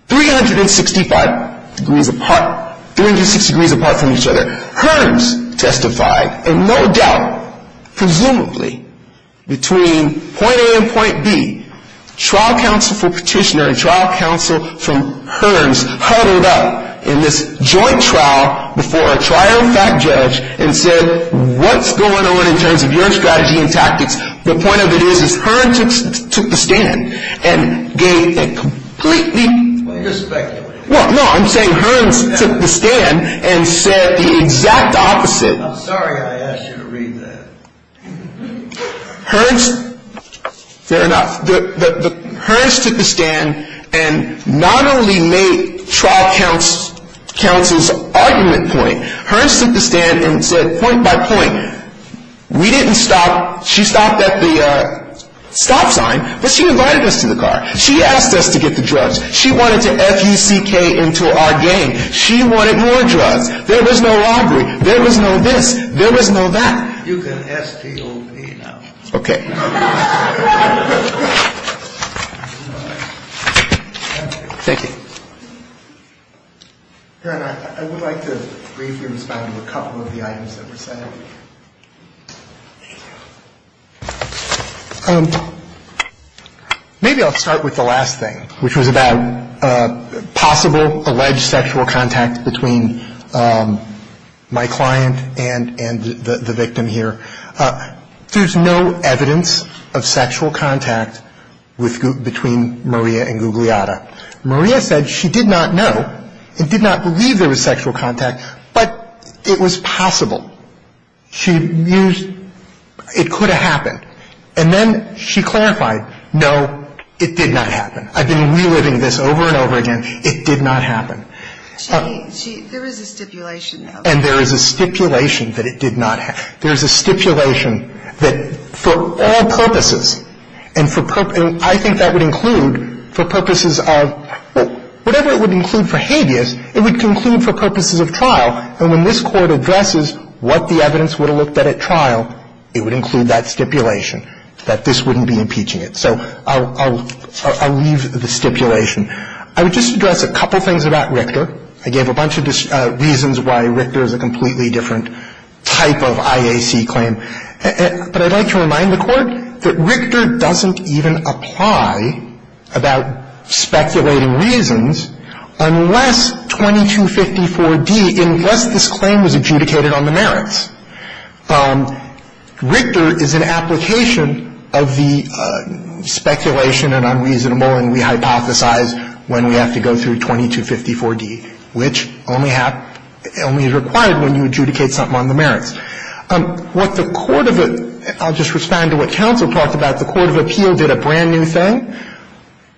365 degrees apart, 360 degrees apart from each other. Hearns testified, and no doubt, presumably, between point A and point B. Trial counsel for Petitioner and trial counsel from Hearns huddled up in this joint trial before a trial fact judge and said, what's going on in terms of your strategy and tactics? The point of it is Hearns took the stand and gave a completely. Well, no, I'm saying Hearns took the stand and said the exact opposite. I'm sorry I asked you to read that. Hearns, fair enough, Hearns took the stand and not only made trial counsel's argument point, Hearns took the stand and said point by point, we didn't stop. She stopped at the stop sign, but she invited us to the car. She asked us to get the drugs. She wanted to F-U-C-K into our game. She wanted more drugs. There was no robbery. There was no this. There was no that. You can S-T-O-P now. Okay. Thank you. Dan, I would like to briefly respond to a couple of the items that were said. Thank you. Maybe I'll start with the last thing, which was about possible alleged sexual contact between my client and the victim here. There's no evidence of sexual contact between Maria and Gugliotta. Maria said she did not know and did not believe there was sexual contact, but it was possible. She used it could have happened. And then she clarified, no, it did not happen. I've been reliving this over and over again. It did not happen. There is a stipulation, though. And there is a stipulation that it did not happen. There is a stipulation that for all purposes, and I think that would include for purposes of whatever it would include for habeas, it would conclude for purposes of trial. And when this Court addresses what the evidence would have looked at at trial, it would include that stipulation, that this wouldn't be impeaching it. So I'll leave the stipulation. I would just address a couple things about Richter. I gave a bunch of reasons why Richter is a completely different type of IAC claim. But I'd like to remind the Court that Richter doesn't even apply about speculating reasons unless 2254d, unless this claim was adjudicated on the merits. Richter is an application of the speculation and unreasonable and we hypothesize when we have to go through 2254d, which only is required when you adjudicate something on the merits. What the court of the — I'll just respond to what counsel talked about. The court of appeal did a brand new thing.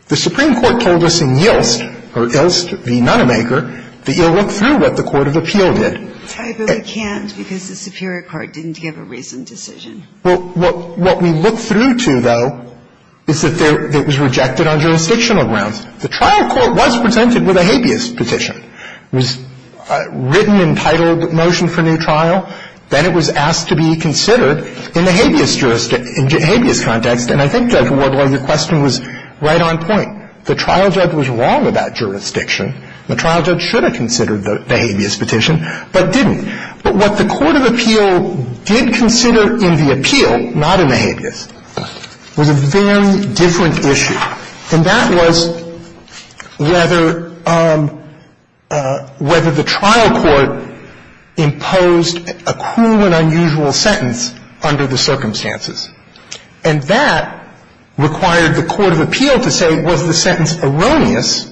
The Supreme Court told us in Yilst, or Yilst v. Nonemaker, that you'll look through what the court of appeal did. I really can't because the superior court didn't give a reasoned decision. Well, what we look through to, though, is that it was rejected on jurisdictional grounds. The trial court was presented with a habeas petition. It was a written, entitled motion for new trial. Then it was asked to be considered in the habeas jurisdiction, in the habeas context, and I think, Judge Wardlaw, your question was right on point. The trial judge was wrong about jurisdiction. The trial judge should have considered the habeas petition, but didn't. But what the court of appeal did consider in the appeal, not in the habeas, was a very different issue. And that was whether — whether the trial court imposed a cruel and unusual sentence under the circumstances. And that required the court of appeal to say, was the sentence erroneous?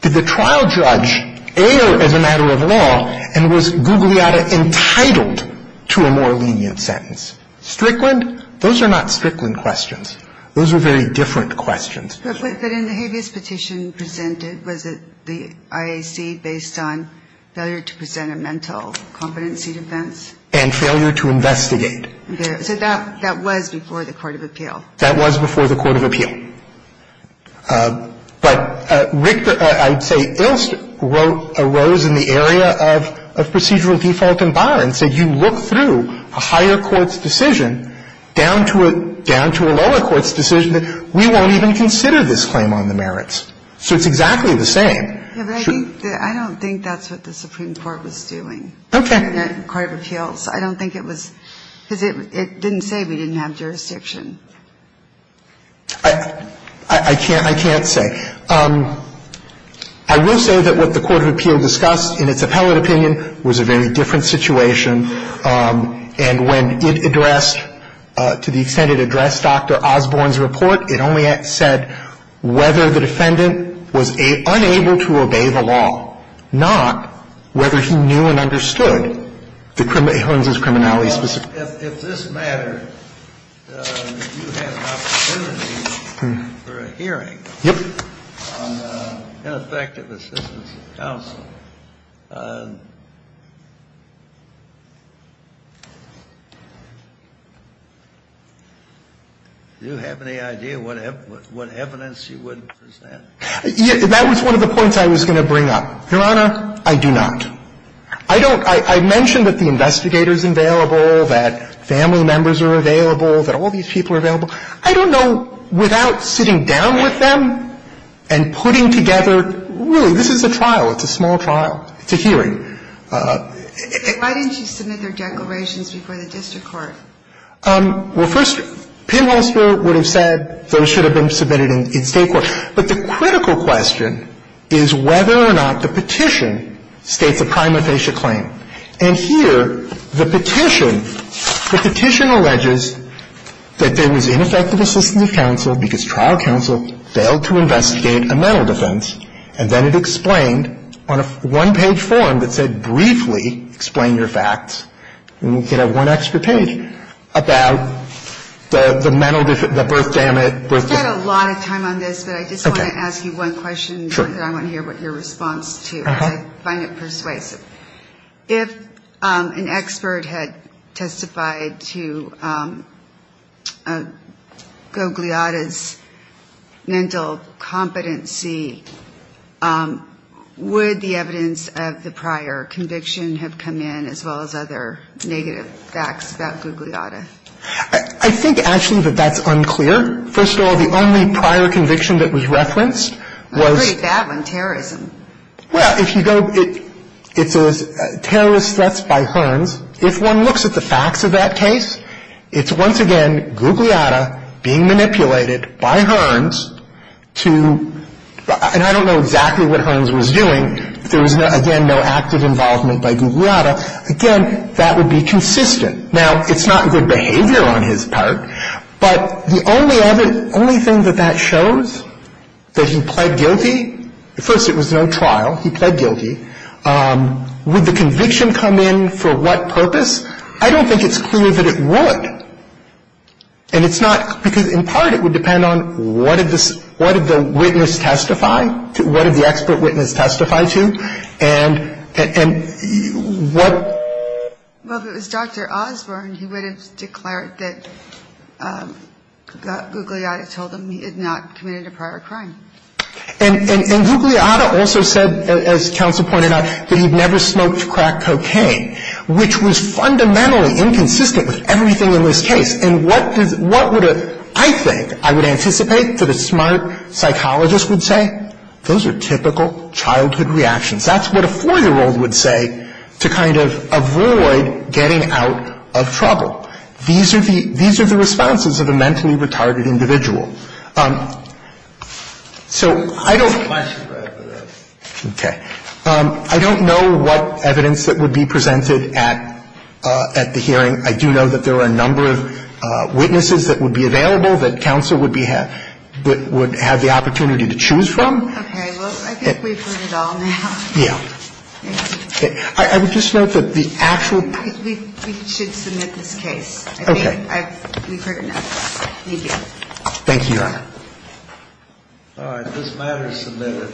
Did the trial judge err as a matter of law, and was Gugliotta entitled to a more lenient sentence? Strickland? Those are not Strickland questions. Those are very different questions. But in the habeas petition presented, was it the IAC based on failure to present a mental competency defense? And failure to investigate. So that was before the court of appeal. That was before the court of appeal. But Rick, I'd say, Ilst wrote a rose in the area of procedural default and bar, and So it's exactly the same. I don't think that's what the Supreme Court was doing. Okay. The court of appeals. I don't think it was — because it didn't say we didn't have jurisdiction. I can't say. I will say that what the court of appeal discussed in its appellate opinion was a very different situation. And when it addressed, to the extent it addressed Dr. Osborne's report, it only said whether the defendant was unable to obey the law, not whether he knew and understood the criminal — Holmes' criminality. Well, if this mattered, you had an opportunity for a hearing on ineffective assistance of counsel. Do you have any idea what evidence you would present? That was one of the points I was going to bring up. Your Honor, I do not. I don't — I mentioned that the investigator is available, that family members are available, that all these people are available. I don't know, without sitting down with them and putting together — really, this is a trial. It's a small trial. It's a hearing. Why didn't you submit their declarations before the district court? Well, first, Penholster would have said those should have been submitted in state court. But the critical question is whether or not the petition states a prima facie claim. And here, the petition, the petition alleges that there was ineffective assistance of counsel because trial counsel failed to investigate a mental defense, and then it explained on a one-page form that said briefly, explain your facts, and you could have one extra page about the mental — the birth damage. I've spent a lot of time on this, but I just want to ask you one question. Sure. I want to hear your response, too, because I find it persuasive. If an expert had testified to Gugliotta's mental competency, would the evidence of the prior conviction have come in, as well as other negative facts about Gugliotta? I think, actually, that that's unclear. First of all, the only prior conviction that we referenced was — That's a pretty bad one, terrorism. Well, if you go — it says terrorist threats by Hearns. If one looks at the facts of that case, it's once again Gugliotta being manipulated by Hearns to — and I don't know exactly what Hearns was doing. There was, again, no active involvement by Gugliotta. Again, that would be consistent. Now, it's not good behavior on his part, but the only other — only thing that that I don't think it's clear that it would. And it's not — because, in part, it would depend on what did the witness testify to, what did the expert witness testify to, and what — Well, if it was Dr. Osborne, he would have declared that Gugliotta told him he had not committed a prior crime. And Gugliotta also said, as counsel pointed out, that he'd never smoked crack cocaine, which was fundamentally inconsistent with everything in this case. And what does — what would a — I think I would anticipate that a smart psychologist would say, those are typical childhood reactions. That's what a 4-year-old would say to kind of avoid getting out of trouble. These are the — these are the responses of a mentally retarded individual. So I don't — I have a question, Brad, for this. Okay. I don't know what evidence that would be presented at the hearing. I do know that there are a number of witnesses that would be available that counsel would be — would have the opportunity to choose from. Okay. Well, I think we've heard it all now. Yeah. I would just note that the actual — We should submit this case. Okay. I think we've heard enough. Thank you. Thank you, Your Honor. All right. This matter is submitted.